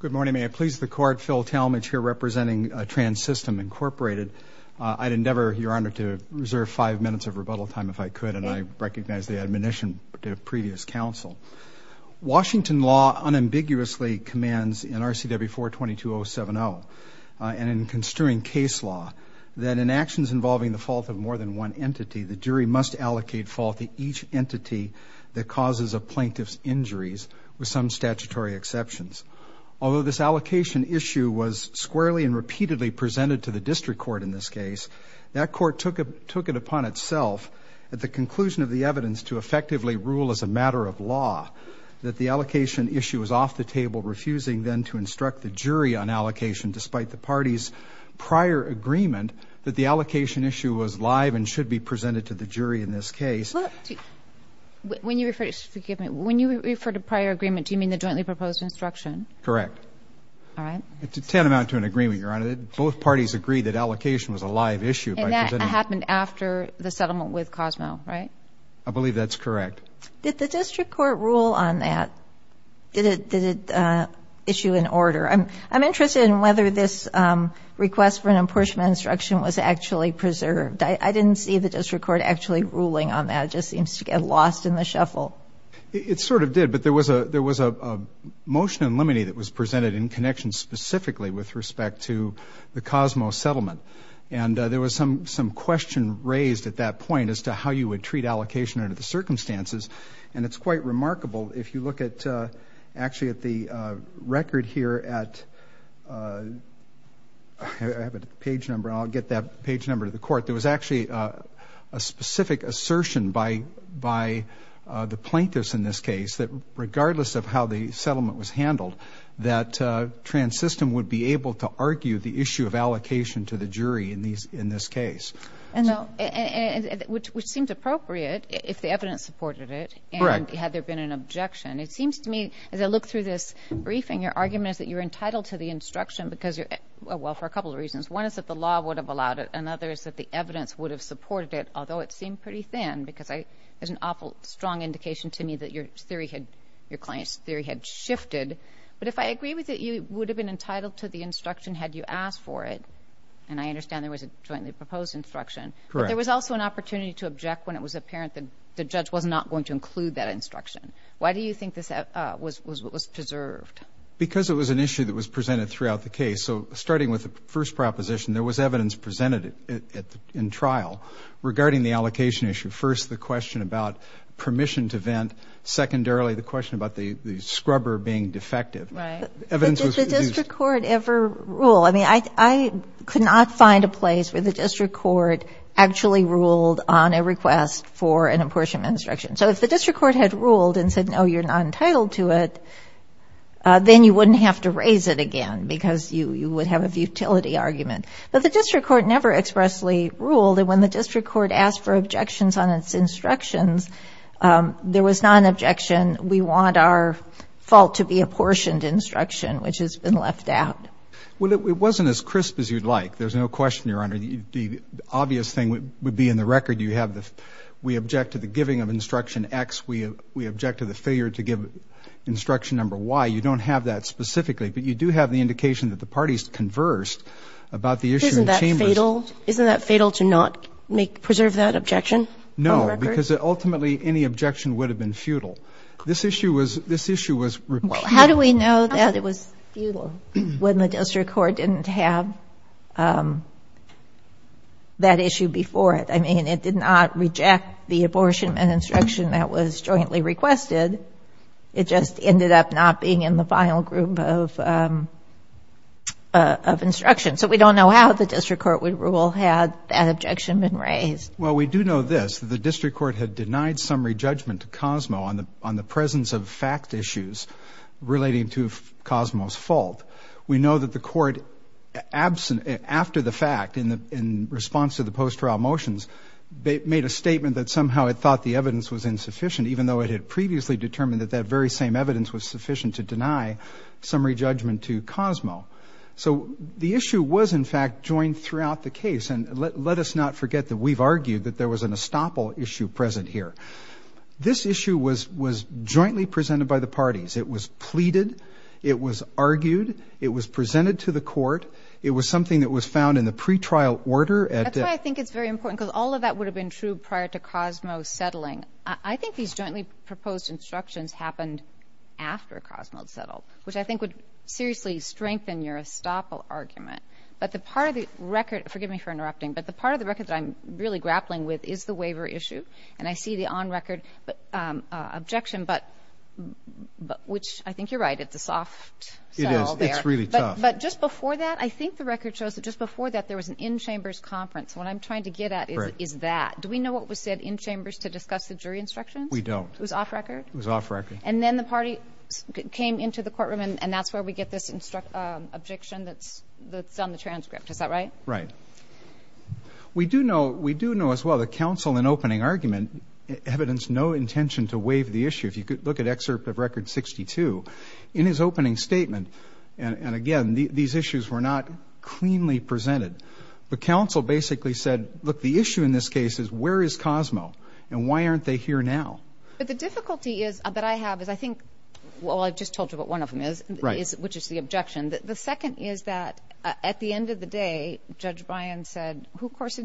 Good morning. May I please the Court? Phil Talmadge here representing Trans-System, Inc. I'd endeavor, Your Honor, to reserve five minutes of rebuttal time if I could, and I recognize the admonition to previous counsel. Washington law unambiguously commands in R.C.W. 422.070 and in construing case law that in actions involving the fault of more than one entity, the jury must allocate fault to each entity that causes a plaintiff's injuries with some statutory exceptions. Although this allocation issue was squarely and repeatedly presented to the district court in this case, that court took it upon itself at the conclusion of the evidence to effectively rule as a matter of law that the allocation issue was off the table, refusing then to instruct the jury on allocation despite the party's prior agreement that the allocation issue was live and should be presented to the jury in this case. When you refer to prior agreement, do you mean the jointly proposed instruction? Correct. All right. It's tantamount to an agreement, Your Honor. Both parties agreed that allocation was a live issue. And that happened after the settlement with Cosmo, right? I believe that's correct. Did the district court rule on that? Did it issue an order? I'm interested in whether this request for an apportionment instruction was actually preserved. I didn't see the district court actually ruling on that. It just seems to get lost in the shuffle. It sort of did. But there was a motion in limine that was presented in connection specifically with respect to the Cosmo settlement. And there was some question raised at that point as to how you would treat allocation under the circumstances. And it's quite remarkable. If you look at actually at the record here at page number, I'll get that page number to the court. There was actually a specific assertion by the plaintiffs in this case that regardless of how the settlement was handled, that TransSystem would be able to argue the issue of allocation to the jury in this case. And which seemed appropriate if the evidence supported it. Correct. And had there been an objection. It seems to me, as I look through this briefing, your argument is that you're entitled to the instruction because you're, well, for a couple of reasons. One is that the law would have allowed it. Another is that the evidence would have supported it, although it seemed pretty thin. Because there's an awful strong indication to me that your theory had, your client's theory had shifted. But if I agree with it, you would have been entitled to the instruction had you asked for it. And I understand there was a jointly proposed instruction. Correct. There was also an opportunity to object when it was apparent that the judge was not going to include that instruction. Why do you think this was preserved? Because it was an issue that was presented throughout the case. So starting with the first proposition, there was evidence presented in trial regarding the allocation issue. First, the question about permission to vent. Secondarily, the question about the scrubber being defective. Right. Evidence was used. Did the district court ever rule? I mean, I could not find a place where the district court actually ruled on a request for an apportionment instruction. So if the district court had ruled and said, no, you're not entitled to it, then you wouldn't have to raise it again because you would have a futility argument. But the district court never expressly ruled. And when the district court asked for objections on its instructions, there was not an objection. We want our fault to be apportioned instruction, which has been left out. Well, it wasn't as crisp as you'd like. There's no question, Your Honor. The obvious thing would be in the record. You have the we object to the giving of instruction X. We object to the failure to give instruction number Y. You don't have that specifically. But you do have the indication that the parties conversed about the issue in chambers. Isn't that fatal to not preserve that objection from the record? No, because ultimately any objection would have been futile. This issue was repealed. Well, how do we know that it was futile when the district court didn't have that issue before it? I mean, it did not reject the apportionment instruction that was jointly requested. It just ended up not being in the final group of instructions. So we don't know how the district court would rule had that objection been raised. Well, we do know this. The district court had denied summary judgment to Cosmo on the presence of fact issues relating to Cosmo's fault. We know that the court, after the fact, in response to the post-trial motions, made a statement that somehow it thought the evidence was insufficient, even though it had previously determined that that very same evidence was sufficient to deny summary judgment to Cosmo. So the issue was, in fact, joined throughout the case. And let us not forget that we've argued that there was an estoppel issue present here. This issue was jointly presented by the parties. It was pleaded. It was argued. It was presented to the court. It was something that was found in the pretrial order. That's why I think it's very important, because all of that would have been true prior to Cosmo settling. I think these jointly proposed instructions happened after Cosmo had settled, which I think would seriously strengthen your estoppel argument. But the part of the record, forgive me for interrupting, but the part of the record that I'm really grappling with is the waiver issue. And I see the on-record objection, but which I think you're right, it's a soft sell there. It is. It's really tough. But just before that, I think the record shows that just before that, there was an in-chambers conference. What I'm trying to get at is that. Do we know what was said in chambers to discuss the jury instructions? We don't. It was off-record? It was off-record. And then the party came into the courtroom, and that's where we get this objection that's on the transcript. Is that right? Right. We do know as well that counsel in opening argument evidenced no intention to waive the issue. If you could look at excerpt of Record 62, in his opening statement, and again, these issues were not cleanly presented. But counsel basically said, look, the issue in this case is where is Cosmo, and why aren't they here now? But the difficulty that I have is I think, well, I just told you what one of them is, which is the objection. The second is that at the end of the day, Judge Bryan said, who, of course,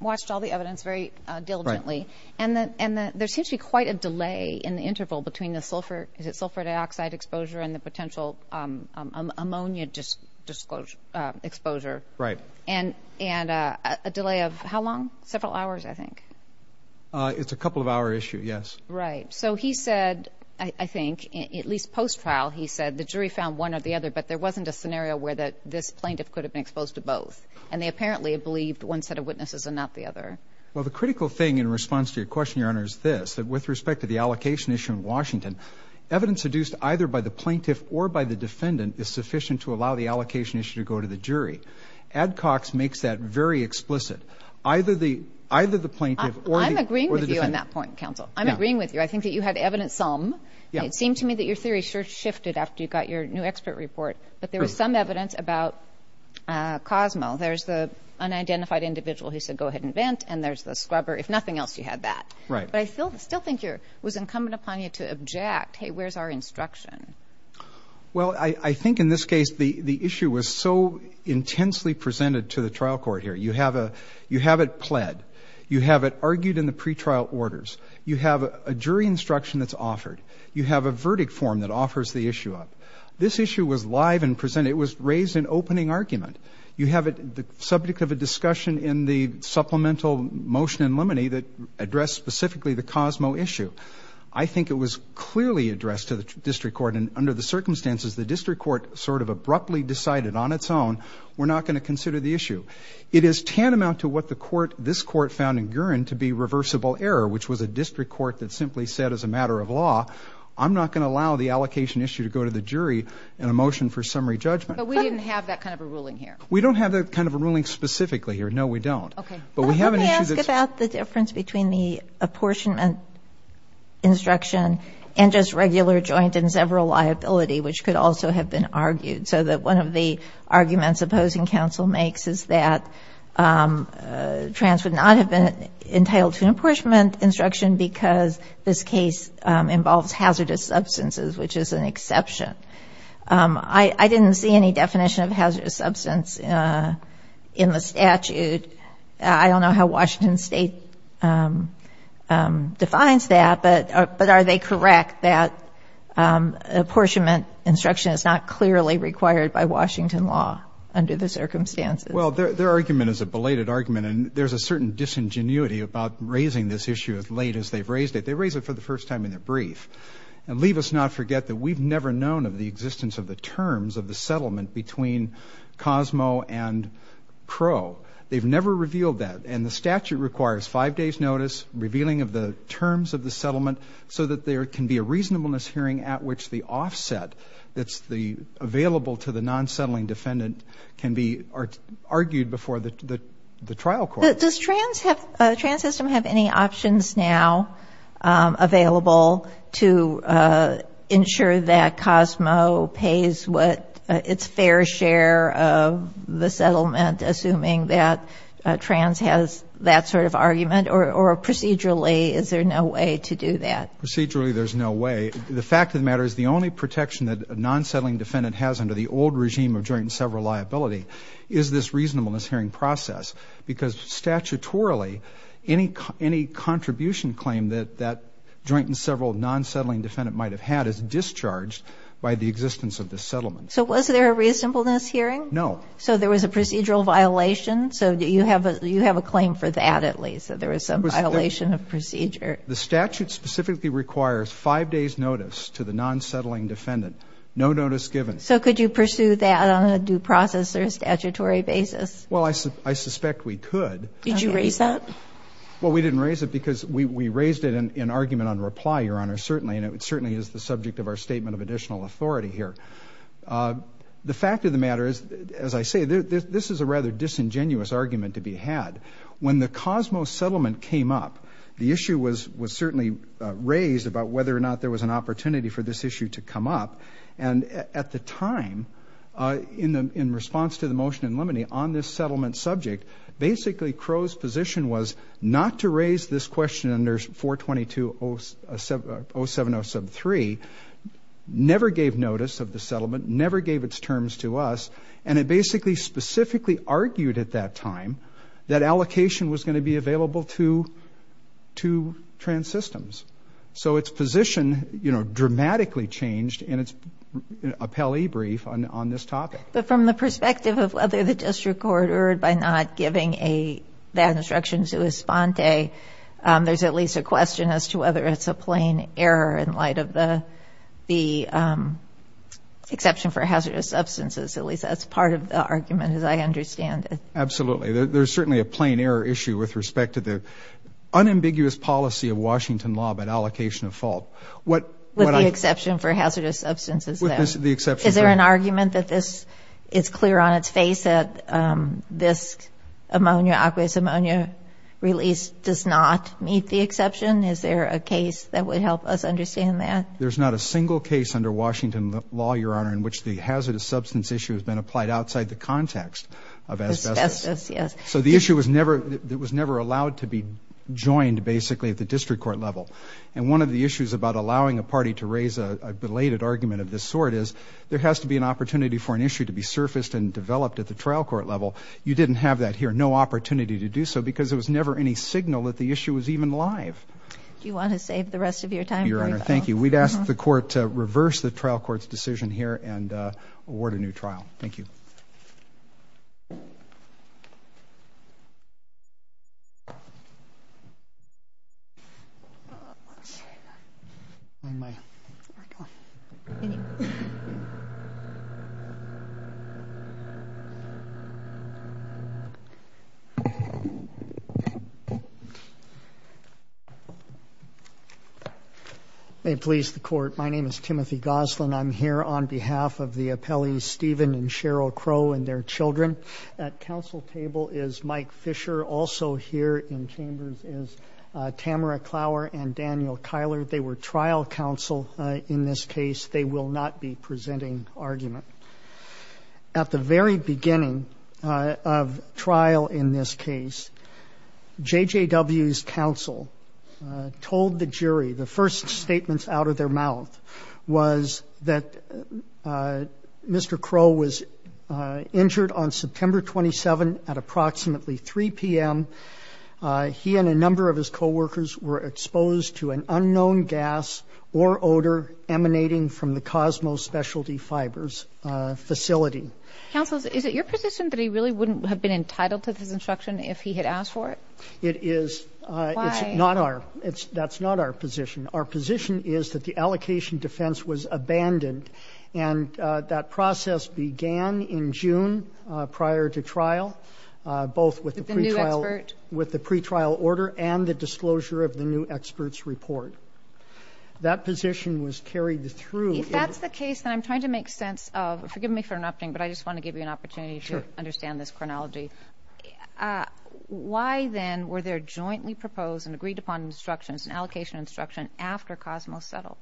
watched all the evidence very diligently, and there seems to be quite a delay in the interval between the sulfur dioxide exposure and the potential ammonia exposure. Right. And a delay of how long? Several hours, I think. It's a couple-of-hour issue, yes. Right. So he said, I think, at least post-trial, he said the jury found one or the other, but there wasn't a scenario where this plaintiff could have been exposed to both. And they apparently believed one set of witnesses and not the other. Well, the critical thing in response to your question, Your Honor, is this, that with respect to the allocation issue in Washington, evidence deduced either by the plaintiff or by the defendant is sufficient to allow the allocation issue to go to the jury. Adcox makes that very explicit. Either the plaintiff or the defendant. I'm agreeing with you on that point, counsel. I'm agreeing with you. I think that you had evidence some. It seemed to me that your theory sure shifted after you got your new expert report. But there was some evidence about Cosmo. There's the unidentified individual who said, go ahead and vent, and there's the scrubber. If nothing else, you had that. Right. But I still think it was incumbent upon you to object. Hey, where's our instruction? Well, I think in this case the issue was so intensely presented to the trial court here. You have it pled. You have it argued in the pretrial orders. You have a jury instruction that's offered. You have a verdict form that offers the issue up. This issue was live and presented. It was raised in opening argument. You have it the subject of a discussion in the supplemental motion in limine that addressed specifically the Cosmo issue. I think it was clearly addressed to the district court, and under the circumstances, the district court sort of abruptly decided on its own, we're not going to consider the issue. It is tantamount to what the court, this court, found in Gurin to be reversible error, which was a district court that simply said as a matter of law, I'm not going to allow the allocation issue to go to the jury in a motion for summary judgment. But we didn't have that kind of a ruling here. We don't have that kind of a ruling specifically here. No, we don't. Okay. But we have an issue that's. Let me ask about the difference between the apportionment instruction and just regular joint and several liability, which could also have been argued. So that one of the arguments opposing counsel makes is that trans would not have been entitled to an apportionment instruction because this case involves hazardous substances, which is an exception. I didn't see any definition of hazardous substance in the statute. I don't know how Washington State defines that. But are they correct that apportionment instruction is not clearly required by Washington law under the circumstances? Well, their argument is a belated argument, and there's a certain disingenuity about raising this issue as late as they've raised it. They raised it for the first time in their brief. And leave us not forget that we've never known of the existence of the terms of the settlement between Cosmo and Crow. They've never revealed that. And the statute requires five days' notice, revealing of the terms of the settlement, so that there can be a reasonableness hearing at which the offset that's available to the non-settling defendant can be argued before the trial court. Does trans have any options now available to ensure that Cosmo pays what its fair share of the settlement, assuming that trans has that sort of argument? Or procedurally, is there no way to do that? Procedurally, there's no way. The fact of the matter is the only protection that a non-settling defendant has under the old regime of joint and several liability is this reasonableness hearing process, because statutorily, any contribution claim that that joint and several non-settling defendant might have had is discharged by the existence of the settlement. So was there a reasonableness hearing? No. So there was a procedural violation? So you have a claim for that, at least, that there was some violation of procedure. The statute specifically requires five days' notice to the non-settling defendant, no notice given. So could you pursue that on a due process or a statutory basis? Well, I suspect we could. Did you raise that? Well, we didn't raise it because we raised it in argument on reply, Your Honor, certainly, and it certainly is the subject of our statement of additional authority here. The fact of the matter is, as I say, this is a rather disingenuous argument to be had. When the Cosmo settlement came up, the issue was certainly raised about whether or not there was an opportunity for this issue to come up, and at the time, in response to the motion in limine on this settlement subject, basically Crow's position was not to raise this question under 422-07073, never gave notice of the settlement, never gave its terms to us, and it basically specifically argued at that time that allocation was going to be available to trans systems. So its position, you know, dramatically changed in its appellee brief on this topic. But from the perspective of whether the district court erred by not giving that instruction to Esponte, there's at least a question as to whether it's a plain error in light of the exception for hazardous substances. At least that's part of the argument, as I understand it. Absolutely. There's certainly a plain error issue with respect to the unambiguous policy of Washington law about allocation of fault. With the exception for hazardous substances, though. Is there an argument that this is clear on its face, that this ammonia, aqueous ammonia release does not meet the exception? Is there a case that would help us understand that? In which the hazardous substance issue has been applied outside the context of asbestos. Asbestos, yes. So the issue was never allowed to be joined, basically, at the district court level. And one of the issues about allowing a party to raise a belated argument of this sort is there has to be an opportunity for an issue to be surfaced and developed at the trial court level. You didn't have that here, no opportunity to do so, because there was never any signal that the issue was even live. Do you want to save the rest of your time? Your Honor, thank you. We'd ask the court to reverse the trial court's decision here and award a new trial. Thank you. Thank you. May it please the court, my name is Timothy Goslin. I'm here on behalf of the appellees Stephen and Cheryl Crow and their children. At counsel table is Mike Fisher. Also here in chambers is Tamara Clower and Daniel Kyler. They were trial counsel in this case. They will not be presenting argument. At the very beginning of trial in this case, JJW's counsel told the jury, the first statements out of their mouth was that Mr. Crow was injured on September 27 at approximately 3 p.m. He and a number of his co-workers were exposed to an unknown gas or odor emanating from the Cosmo Specialty Fibers facility. Counsel, is it your position that he really wouldn't have been entitled to this instruction if he had asked for it? It is. Why? Not our. That's not our position. Our position is that the allocation defense was abandoned and that process began in June prior to trial. With the new expert? With the pretrial order and the disclosure of the new expert's report. That position was carried through. If that's the case, then I'm trying to make sense of, forgive me for interrupting, but I just want to give you an opportunity to understand this chronology. Why, then, were there jointly proposed and agreed upon instructions, an allocation instruction after Cosmo settled?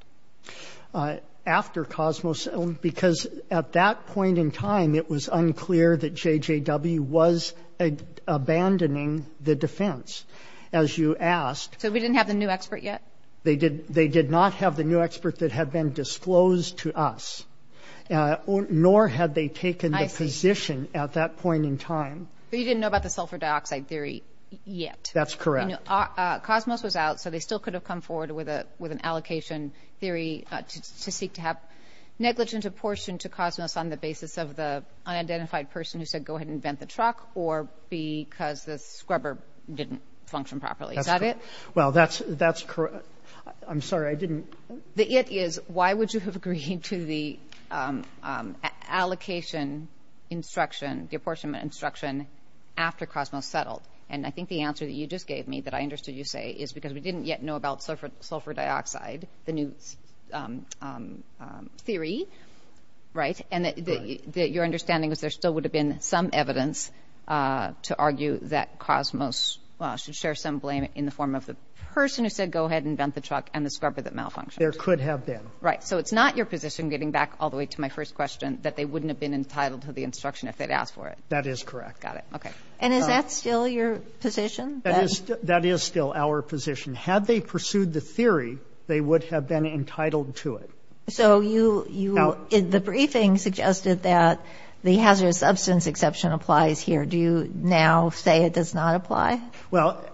After Cosmo settled? Because at that point in time, it was unclear that JJW was abandoning the defense. As you asked. So we didn't have the new expert yet? They did not have the new expert that had been disclosed to us, nor had they taken the position at that point in time. But you didn't know about the sulfur dioxide theory yet? That's correct. Cosmos was out, so they still could have come forward with an allocation theory to seek to have negligence apportioned to Cosmos on the basis of the unidentified person who said, go ahead and vent the truck, or because the scrubber didn't function properly. Is that it? Well, that's correct. I'm sorry. I didn't. The it is, why would you have agreed to the allocation instruction, the apportionment instruction after Cosmos settled? And I think the answer that you just gave me, that I understood you say, is because we didn't yet know about sulfur dioxide, the new theory, right? And your understanding is there still would have been some evidence to argue that Cosmos should share some blame in the form of the person who said, go ahead and vent the truck and the scrubber that malfunctioned. There could have been. Right. So it's not your position, getting back all the way to my first question, that they wouldn't have been entitled to the instruction if they'd asked for it? That is correct. Got it. Okay. And is that still your position? That is still our position. Had they pursued the theory, they would have been entitled to it. So you, the briefing suggested that the hazardous substance exception applies here. Do you now say it does not apply? Well,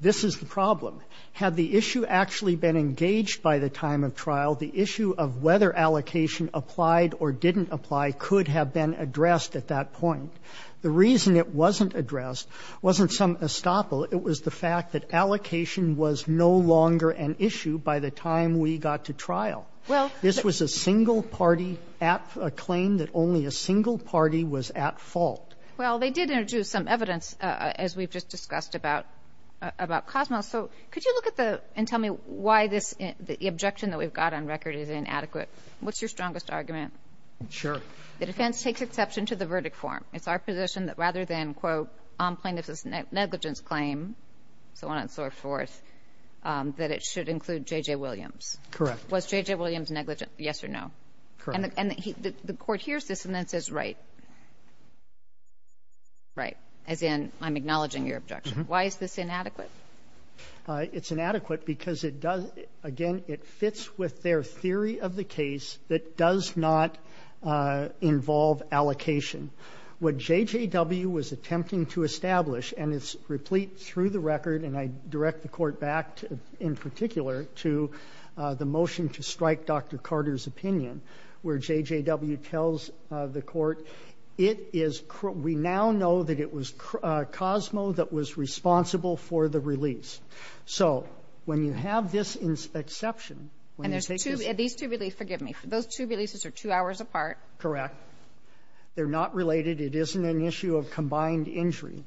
this is the problem. Had the issue actually been engaged by the time of trial, the issue of whether allocation applied or didn't apply could have been addressed at that point. The reason it wasn't addressed wasn't some estoppel. It was the fact that allocation was no longer an issue by the time we got to trial. This was a single-party claim that only a single party was at fault. Well, they did introduce some evidence, as we've just discussed, about Cosmo. So could you look at the and tell me why this, the objection that we've got on record is inadequate? What's your strongest argument? Sure. The defense takes exception to the verdict form. It's our position that rather than, quote, plaintiff's negligence claim, so on and so forth, that it should include J.J. Williams. Correct. Was J.J. Williams negligent, yes or no? Correct. And the court hears this and then says, right, right, as in I'm acknowledging your objection. Why is this inadequate? It's inadequate because it does, again, it fits with their theory of the case that does not involve allocation. What JJW was attempting to establish, and it's replete through the record, and I direct the court back in particular to the motion to strike Dr. Carter's opinion where JJW tells the court, it is, we now know that it was Cosmo that was responsible for the release. So when you have this exception, when you take this. And there's two, these two releases, forgive me, those two releases are two hours apart. Correct. They're not related. It isn't an issue of combined injury.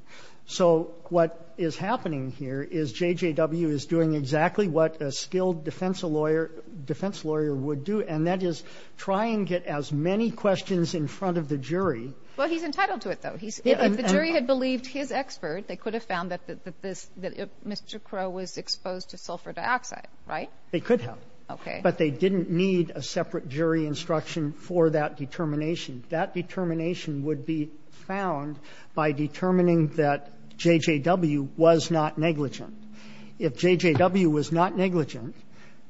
So what is happening here is JJW is doing exactly what a skilled defense lawyer, defense lawyer would do, and that is try and get as many questions in front of the jury. Well, he's entitled to it, though. If the jury had believed his expert, they could have found that this, that Mr. Crow was exposed to sulfur dioxide, right? They could have. Okay. But they didn't need a separate jury instruction for that determination. That determination would be found by determining that JJW was not negligent. If JJW was not negligent,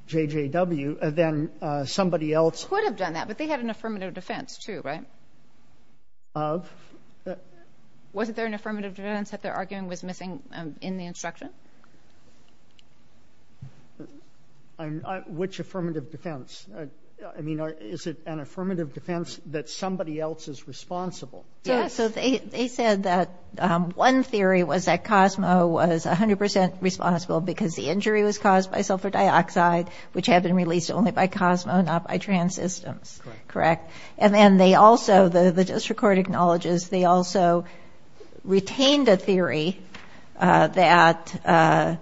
JJW, then somebody else. Could have done that, but they had an affirmative defense, too, right? Of? Wasn't there an affirmative defense that they're arguing was missing in the instruction? Which affirmative defense? I mean, is it an affirmative defense that somebody else is responsible? Yes. So they said that one theory was that Cosmo was 100 percent responsible because the injury was caused by sulfur dioxide, which had been released only by Cosmo, not by Trans Systems. Correct. And then they also, the district court acknowledges they also retained a theory that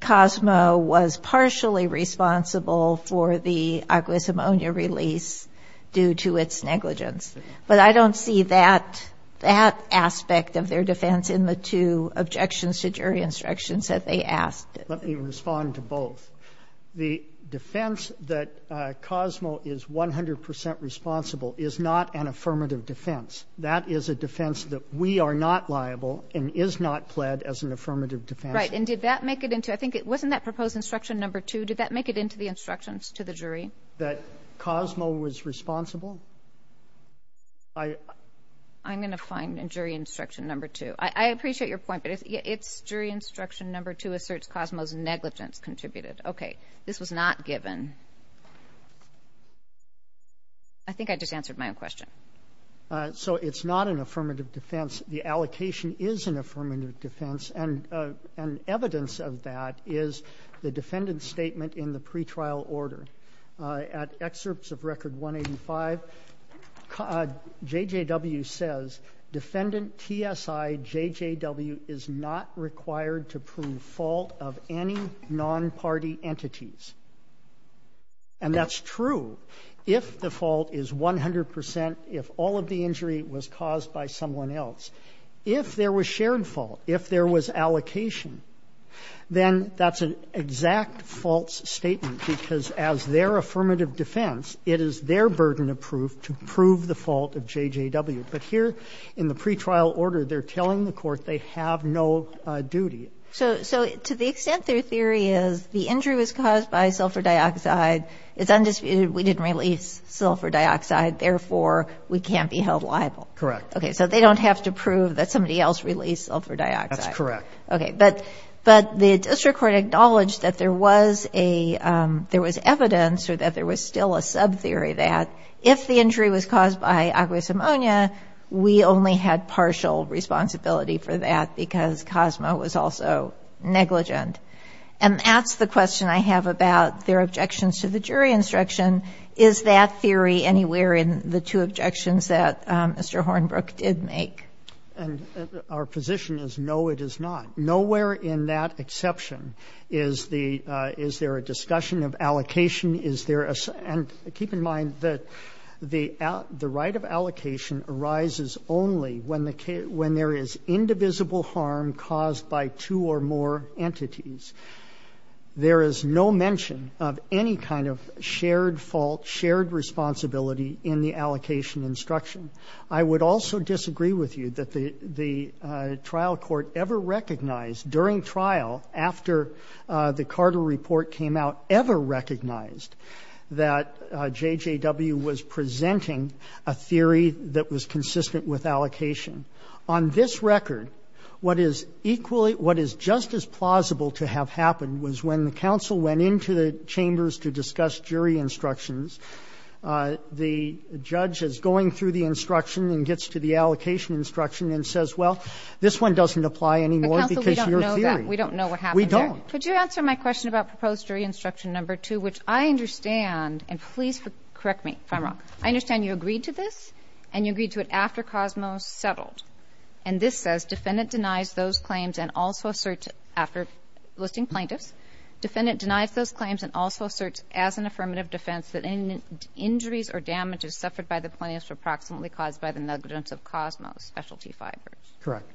Cosmo was partially responsible for the aqueous ammonia release due to its negligence. But I don't see that, that aspect of their defense in the two objections to jury instructions that they asked. Let me respond to both. The defense that Cosmo is 100 percent responsible is not an affirmative defense. That is a defense that we are not liable and is not pled as an affirmative defense. Right. And did that make it into the, I think it wasn't that proposed instruction number two, did that make it into the instructions to the jury? That Cosmo was responsible? I'm going to find jury instruction number two. I appreciate your point, but it's jury instruction number two asserts Cosmo's negligence contributed. Okay. This was not given. I think I just answered my own question. So it's not an affirmative defense. The allocation is an affirmative defense, and evidence of that is the defendant's statement in the pretrial order. At excerpts of Record 185, JJW says, Defendant TSI JJW is not required to prove fault of any nonparty entities. And that's true if the fault is 100 percent, if all of the injury was caused by someone else. If there was shared fault, if there was allocation, then that's an exact false statement, because as their affirmative defense, it is their burden of proof to prove the fault of JJW. But here in the pretrial order, they're telling the court they have no duty. So to the extent their theory is the injury was caused by sulfur dioxide, it's undisputed we didn't release sulfur dioxide, therefore we can't be held liable. Correct. Okay. So they don't have to prove that somebody else released sulfur dioxide. That's correct. Okay. But the district court acknowledged that there was a ‑‑ there was evidence or that there was still a subtheory that if the injury was caused by aqueous ammonia, we only had partial responsibility for that because COSMA was also negligent. And that's the question I have about their objections to the jury instruction. Is that theory anywhere in the two objections that Mr. Hornbrook did make? And our position is no, it is not. Nowhere in that exception is the ‑‑ is there a discussion of allocation? Is there a ‑‑ and keep in mind that the right of allocation arises only when there is indivisible harm caused by two or more entities. There is no mention of any kind of shared fault, shared responsibility in the allocation instruction. I would also disagree with you that the trial court ever recognized during trial after the Carter report came out ever recognized that JJW was presenting a theory that was consistent with allocation. On this record, what is equally ‑‑ what is just as plausible to have happened was when the counsel went into the chambers to discuss jury instructions, the judge is going through the instruction and gets to the allocation instruction and says, well, this one doesn't apply anymore because of your theory. We don't know what happened there. Could you answer my question about proposed jury instruction number 2, which I understand and please correct me if I'm wrong. I understand you agreed to this and you agreed to it after COSMO settled. And this says defendant denies those claims and also asserts after listing plaintiffs, defendant denies those claims and also asserts as an affirmative defense that any injuries or damages suffered by the plaintiffs were proximately caused by the negligence of COSMO specialty fibers. Correct.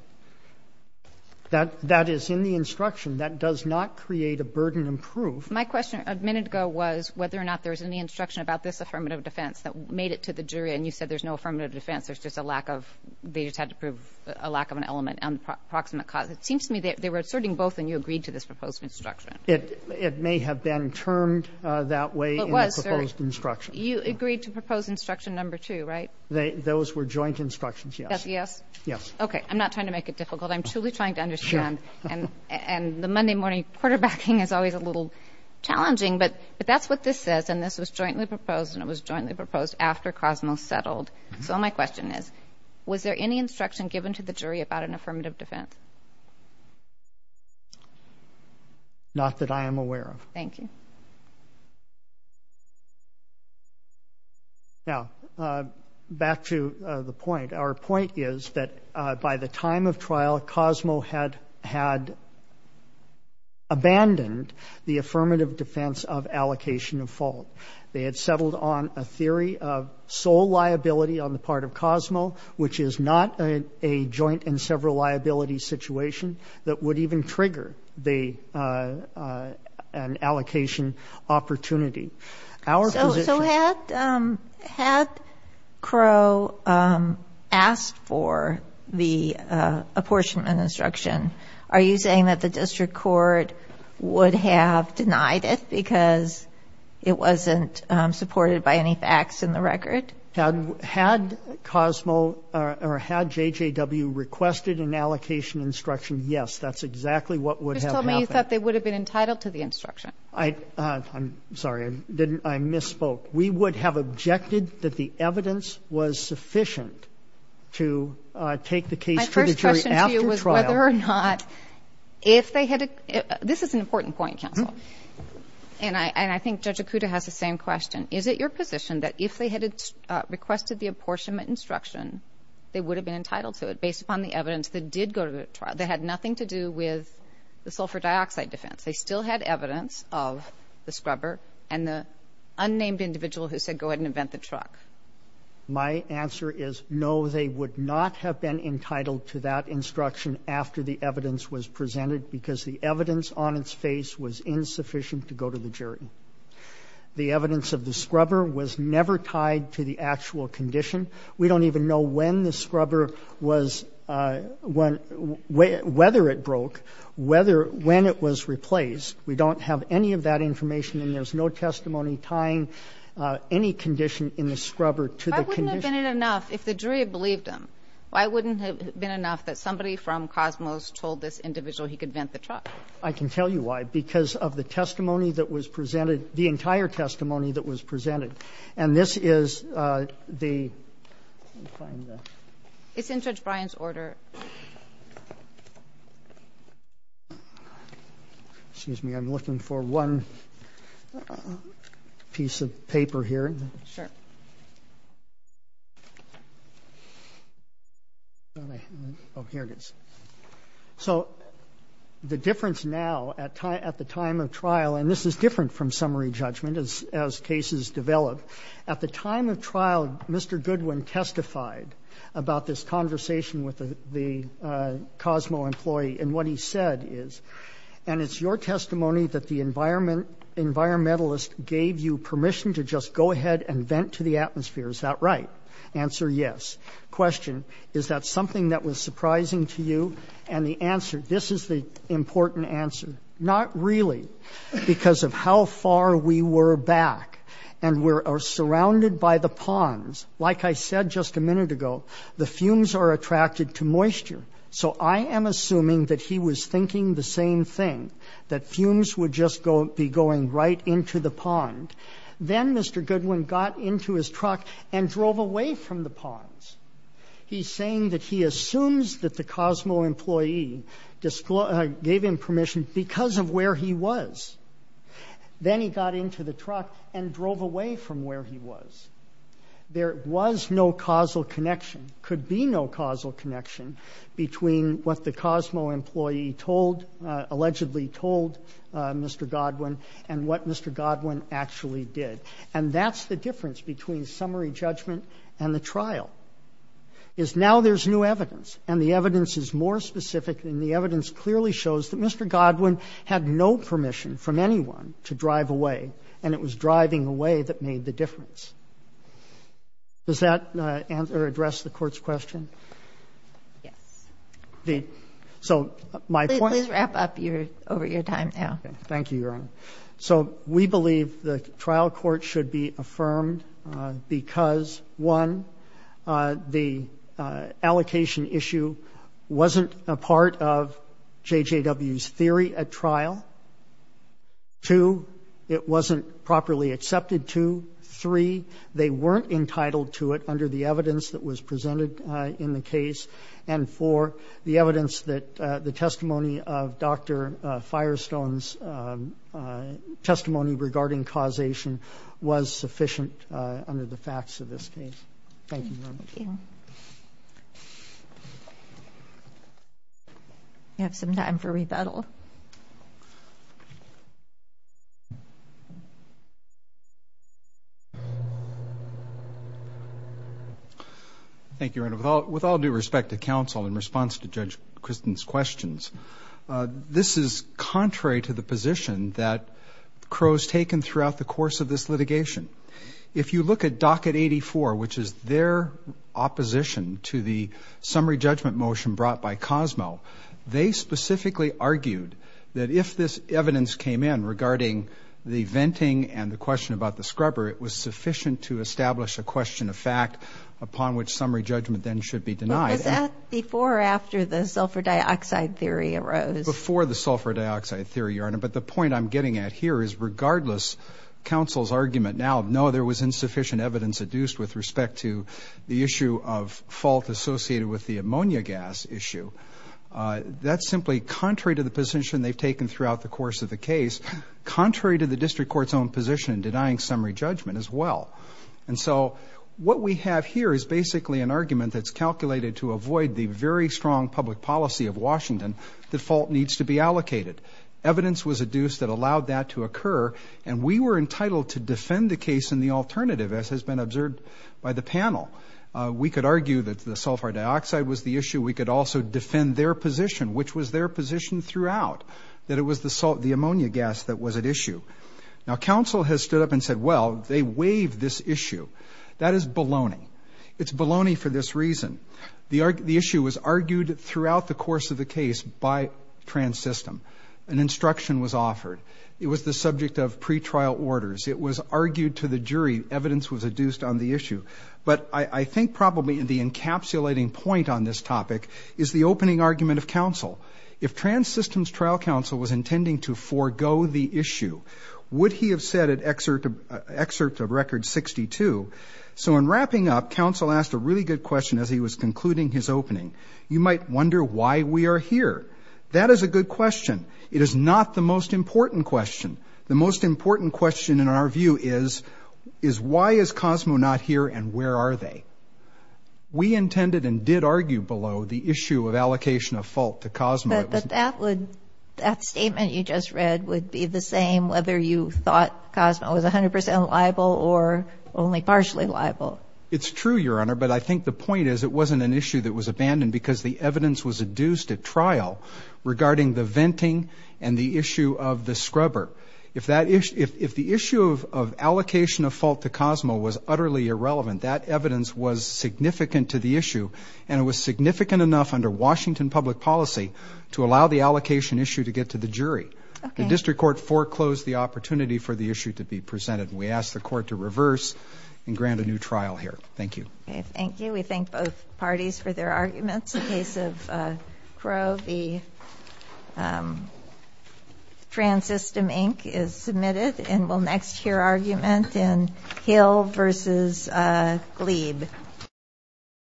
That is in the instruction. That does not create a burden of proof. My question a minute ago was whether or not there was any instruction about this affirmative defense that made it to the jury and you said there's no affirmative defense, there's just a lack of ‑‑ they just had to prove a lack of an element on the proximate cause. It seems to me they were asserting both and you agreed to this proposed instruction. It may have been termed that way in the proposed instruction. You agreed to proposed instruction number 2, right? Those were joint instructions, yes. That's a yes? Yes. Okay. I'm not trying to make it difficult. I'm truly trying to understand. Sure. And the Monday morning quarterbacking is always a little challenging. But that's what this says and this was jointly proposed and it was jointly proposed after COSMO settled. So my question is, was there any instruction given to the jury about an affirmative defense? Not that I am aware of. Thank you. Now, back to the point. Our point is that by the time of trial, COSMO had abandoned the affirmative defense of allocation of fault. They had settled on a theory of sole liability on the part of COSMO, which is not a joint and several liability situation that would even trigger an allocation opportunity. So had Crow asked for the apportionment instruction, are you saying that the district court would have denied it because it wasn't supported by any facts in the record? Had COSMO or had JJW requested an allocation instruction, yes. That's exactly what would have happened. You just told me you thought they would have been entitled to the instruction. I'm sorry. I misspoke. We would have objected that the evidence was sufficient to take the case to the jury after trial. My first question to you was whether or not if they had a – this is an important point, counsel. And I think Judge Okuda has the same question. Is it your position that if they had requested the apportionment instruction, they would have been entitled to it based upon the evidence that did go to the trial, that had nothing to do with the sulfur dioxide defense? They still had evidence of the scrubber and the unnamed individual who said go ahead and vent the truck. My answer is no, they would not have been entitled to that instruction after the evidence was presented because the evidence on its face was insufficient to go to the jury. The evidence of the scrubber was never tied to the actual condition. We don't even know when the scrubber was – whether it broke, whether – when it was replaced. We don't have any of that information and there's no testimony tying any condition in the scrubber to the condition. Why wouldn't it have been enough if the jury had believed him? Why wouldn't it have been enough that somebody from Cosmos told this individual he could vent the truck? I can tell you why. Because of the testimony that was presented, the entire testimony that was presented. And this is the – let me find the – It's in Judge Bryan's order. Excuse me. I'm looking for one piece of paper here. Sure. Oh, here it is. So the difference now at the time of trial – and this is different from summary judgment as cases develop. At the time of trial, Mr. Goodwin testified about this conversation with the jury of the Cosmo employee. And what he said is, and it's your testimony that the environmentalist gave you permission to just go ahead and vent to the atmosphere. Is that right? Answer, yes. Question, is that something that was surprising to you? And the answer – this is the important answer. Not really, because of how far we were back. And we're surrounded by the ponds. Like I said just a minute ago, the fumes are attracted to moisture. So I am assuming that he was thinking the same thing, that fumes would just be going right into the pond. Then Mr. Goodwin got into his truck and drove away from the ponds. He's saying that he assumes that the Cosmo employee gave him permission because of where he was. Then he got into the truck and drove away from where he was. There was no causal connection, could be no causal connection between what the Cosmo employee told, allegedly told Mr. Goodwin and what Mr. Goodwin actually did. And that's the difference between summary judgment and the trial, is now there's new evidence. And the evidence is more specific, and the evidence clearly shows that Mr. Goodwin had no permission from anyone to drive away, and it was driving away that made the difference. Does that address the Court's question? Yes. Please wrap up over your time now. Thank you, Your Honor. So we believe the trial court should be affirmed because, one, the allocation issue wasn't a part of JJW's theory at trial. Two, it wasn't properly accepted. Two, three, they weren't entitled to it under the evidence that was presented in the case. And four, the evidence that the testimony of Dr. Firestone's testimony regarding causation was sufficient under the facts of this case. Thank you, Your Honor. Thank you. We have some time for rebuttal. Thank you, Your Honor. With all due respect to counsel in response to Judge Kristen's questions, this is contrary to the position that Crowe's taken throughout the course of this litigation. If you look at docket 84, which is their opposition to the summary judgment motion brought by Cosmo, they specifically argued that if this evidence came in regarding the venting and the question about the scrubber, it was sufficient to establish a question of fact upon which summary judgment then should be denied. But was that before or after the sulfur dioxide theory arose? Before the sulfur dioxide theory, Your Honor. But the point I'm getting at here is regardless counsel's argument now, no, there was insufficient evidence adduced with respect to the issue of fault associated with the ammonia gas issue. That's simply contrary to the position they've taken throughout the course of the case, contrary to the district court's own position in denying summary judgment as well. And so what we have here is basically an argument that's calculated to avoid the very strong public policy of Washington that fault needs to be allocated. Evidence was adduced that allowed that to occur, and we were entitled to defend the case in the alternative as has been observed by the panel. We could argue that the sulfur dioxide was the issue. We could also defend their position, which was their position throughout, that it was the ammonia gas that was at issue. Now, counsel has stood up and said, well, they waived this issue. That is baloney. It's baloney for this reason. The issue was argued throughout the course of the case by Trans System. An instruction was offered. It was the subject of pretrial orders. It was argued to the jury. Evidence was adduced on the issue. But I think probably the encapsulating point on this topic is the opening argument of counsel. If Trans System's trial counsel was intending to forego the issue, would he have said at excerpt of record 62, so in wrapping up, counsel asked a really good question as he was concluding his opening. You might wonder why we are here. That is a good question. It is not the most important question. The most important question in our view is, is why is Cosmo not here and where are they? We intended and did argue below the issue of allocation of fault to Cosmo. But that would, that statement you just read would be the same whether you thought Cosmo was 100 percent liable or only partially liable. It is true, Your Honor, but I think the point is it wasn't an issue that was abandoned because the evidence was adduced at trial regarding the venting and the issue of the scrubber. If the issue of allocation of fault to Cosmo was utterly irrelevant, that evidence was significant to the issue and it was significant enough under Washington public policy to allow the allocation issue to get to the jury. The district court foreclosed the opportunity for the issue to be presented. We ask the court to reverse and grant a new trial here. Thank you. Thank you. We thank both parties for their arguments. The case of Crow v. Transystem, Inc. is submitted and we'll next hear argument in Hill v. Glebe.